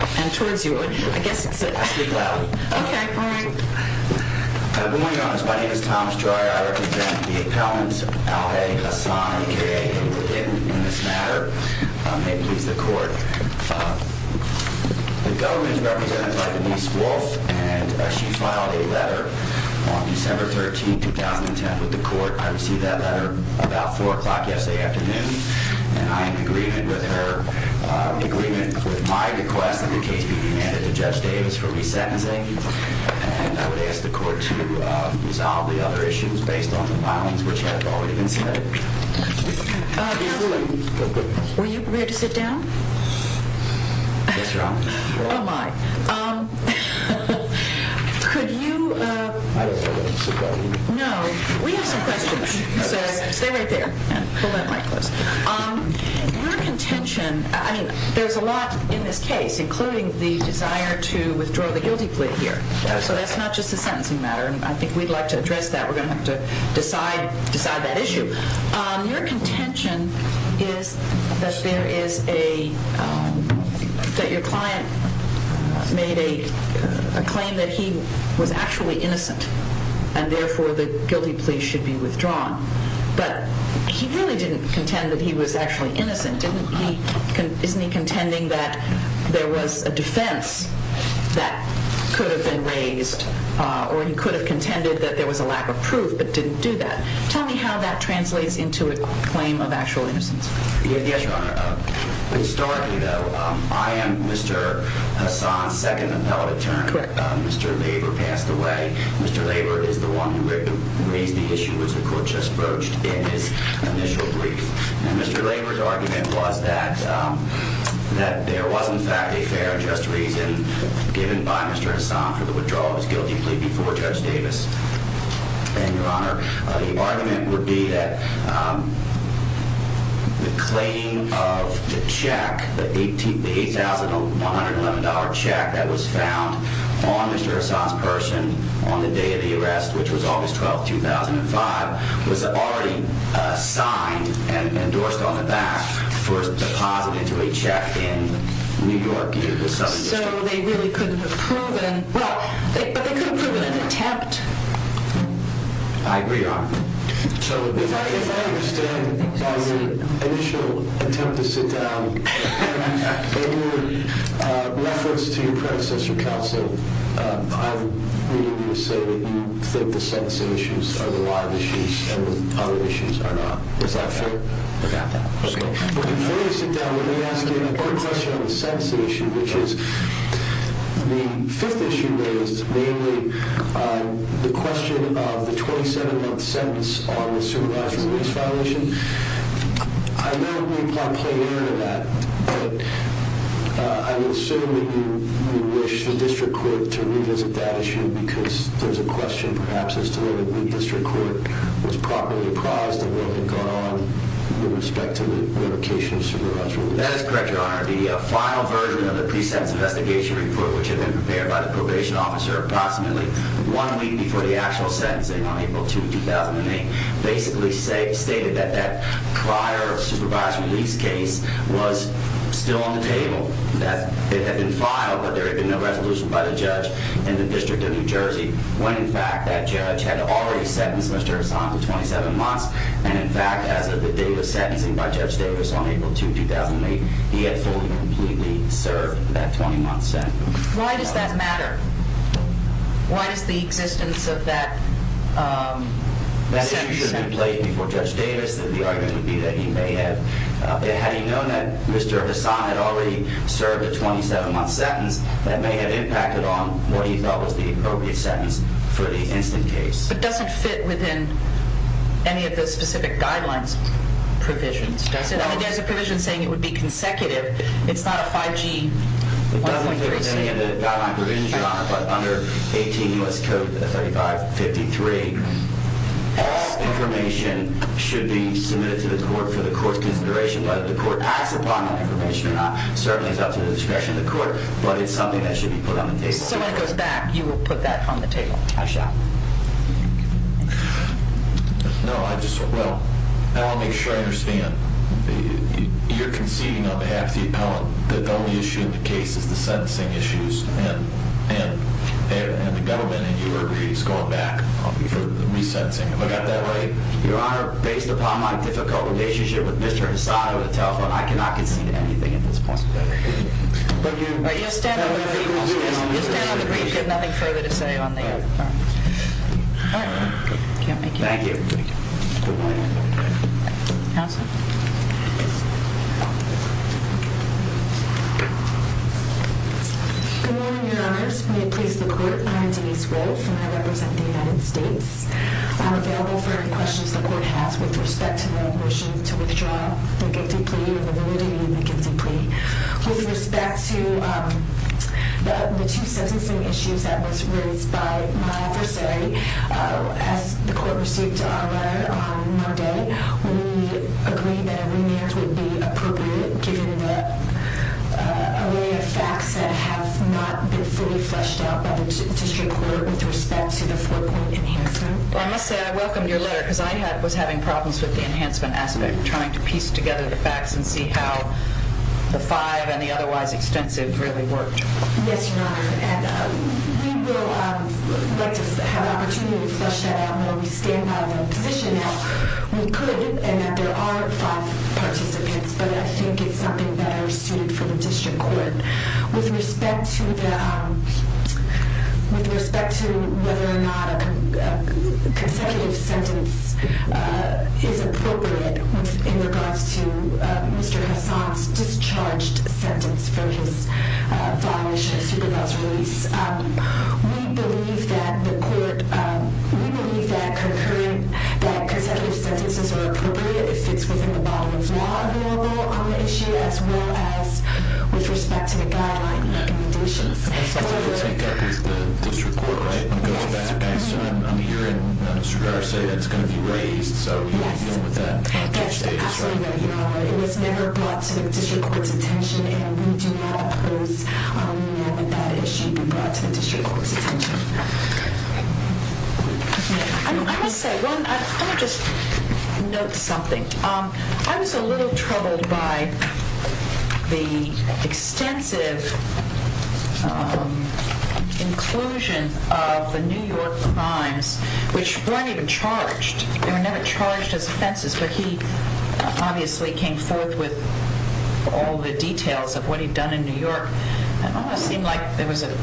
and towards you, I guess it's a I speak loudly Okay, go ahead Good morning, Your Honors, my name is Tom Stryer I represent the appellants, Al Haig, Hasan, and K.A. in this matter May it please the court The government is represented by Denise Wolf and she filed a letter on December 13, 2010 with the court, I received that letter about 4 o'clock yesterday afternoon and I am in agreement with her in agreement with my request that the case be demanded to Judge Davis for resentencing and I would ask the court to resolve the other issues based on the violence which have already been submitted Were you prepared to sit down? Yes, Your Honor Oh my Could you No, we have some questions so stay right there Pull that mic closer Your contention I mean, there's a lot in this case including the desire to withdraw the guilty plea here so that's not just a sentencing matter and I think we'd like to address that we're going to have to decide that issue Your contention is that there is a that your client made a claim that he was actually innocent and therefore the guilty plea should be withdrawn but he really didn't contend that he was actually innocent didn't he isn't he contending that there was a defense that could have been raised or he could have contended that there was a lack of proof but didn't do that tell me how that translates into a claim of actual innocence Yes, Your Honor Historically though I am Mr. Hassan's second appellate attorney Mr. Laver passed away Mr. Laver is the one who raised the issue which the court just broached in his initial brief and Mr. Laver's argument was that that there was in fact a fair and just reason given by Mr. Hassan for the withdrawal of his guilty plea before Judge Davis and Your Honor the argument would be that the claim of the check the $8,111 check that was found on Mr. Hassan's person on the day of the arrest which was August 12, 2005 was already signed and endorsed on the back for deposit into a check in New York in the Southern District So they really couldn't have proven well, but they couldn't have proven an attempt I agree, Your Honor So if I understand as an initial attempt to sit down in reference to your predecessor counsel I'm willing to say that you think the sentencing issues are the live issues and the other issues are not Is that fair? I got that Before you sit down let me ask you a quick question on the sentencing issue which is the fifth issue raised namely the question of the 27-month sentence on the supervisory release violation I know you can't play around with that but I would assume that you wish the district court to revisit that issue because there's a question perhaps as to whether the district court was properly apprised of what had gone on with respect to the revocation of supervisory release That is correct, Your Honor The final version of the pre-sentence investigation report which had been prepared by the probation officer approximately one week before the actual sentencing on April 2, 2008 basically stated that that prior supervised release case was still on the table that it had been filed but there had been no resolution by the judge in the District of New Jersey when in fact that judge had already sentenced Mr. Hassan to 27 months and in fact as of the date of sentencing by Judge Davis on April 2, 2008 he had fully and completely served that 20-month sentence Why does that matter? Why does the existence of that sentence matter? That issue should be played before Judge Davis that the argument would be that he may have had he known that Mr. Hassan had already served a 27-month sentence that may have impacted on what he felt was the appropriate sentence for the instant case It doesn't fit within any of the specific guidelines provisions does it? I mean there's a provision saying it would be consecutive It's not a 5G 1.3C It doesn't fit within any of the guidelines provisions, Your Honor but under 18 U.S. Code 3553 all information should be submitted to the court for the court's consideration whether the court acts upon that information or not certainly is up to the discretion of the court but it's something that should be put on the table So when it goes back, you will put that on the table I shall No, I just well, I'll make sure I understand You're conceding on behalf of the appellant that the only issue in the case is the sentencing issues and the government and you agree it's going back for the resentencing If I got that right, Your Honor based upon my difficult relationship with Mr. Hasada on the telephone I cannot concede anything at this point You'll stand on the brief You'll stand on the brief, you have nothing further to say on the I can't make you Thank you Counselor Good morning, Your Honors May it please the court, I am Denise Wolf and I represent the United States I am available for any questions the court has with respect to my motion to withdraw the guilty plea or the validity of the guilty plea With respect to the two sentencing issues that was raised by my adversary as the court received our letter on Monday we agreed that a remand would be appropriate given the array of facts that have not been fully fleshed out by the district court with respect to the four point enhancement I must say I welcomed your letter because I was having problems with the enhancement aspect trying to piece together the facts and see how the five and the otherwise extensive really worked Yes, Your Honor We will have the opportunity to flesh that out We stand by the position that we could, and that there are five participants, but I think it's something that is suited for the district court With respect to the whether or not a consecutive sentence is appropriate in regards to Mr. Hassan's discharged sentence for his following issue of supervisor release We believe that the court We believe that consecutive sentences are appropriate if it's within the body of law available on the issue as well as with respect to the guideline recommendations That's something that will take up with the district court, right? I'm hearing Mr. Garr say that it's going to be raised Yes, absolutely, Your Honor It was never brought to the district court's attention and we do not oppose that issue being brought to the district court's attention I must say I want to just note something I was a little troubled by the inclusion of the New York crimes which weren't even charged They were never charged as offenses but he obviously came forth with all the details of what he'd done in New York It almost seemed like there was a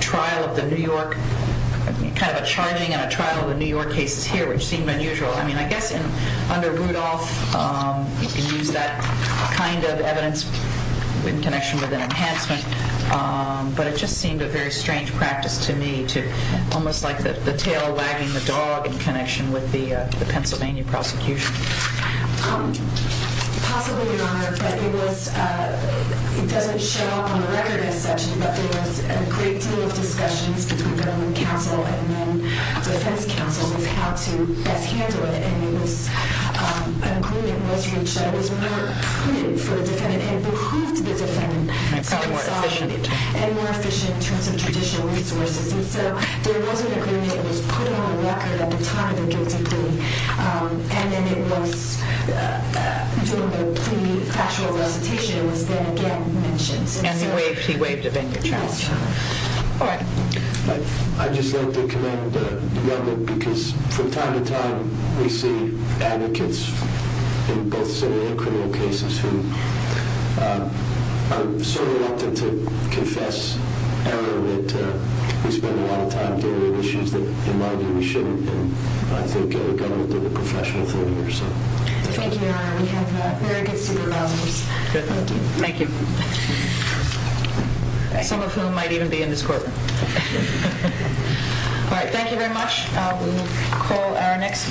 trial of the New York kind of a charging and a trial of the New York cases here, which seemed unusual I mean, I guess under Rudolph you can use that kind of evidence in connection with an enhancement but it just seemed a very strange practice to me almost like the tail wagging the dog in connection with the Pennsylvania prosecution Possibly, Your Honor but it was it doesn't show up on the record as such but there was a great deal of discussions between government counsel and then defense counsel with how to best handle it and it was an agreement was reached that was more prudent for the defendant and behooved the defendant and more efficient in terms of traditional resources and so there was an agreement that was put on the record at the time of the guilty plea and then it was during the plea factual recitation was then again mentioned and he waived a venue charge I'd just like to commend the government because from time to time we see advocates in both similar criminal cases who are so reluctant to confess error that we spend a lot of time dealing with issues that in my view we shouldn't and I think the government did a professional thing here so Thank you, Your Honor. We have very good supervisors Thank you Some of whom might even be in this courtroom Thank you very much We will call our next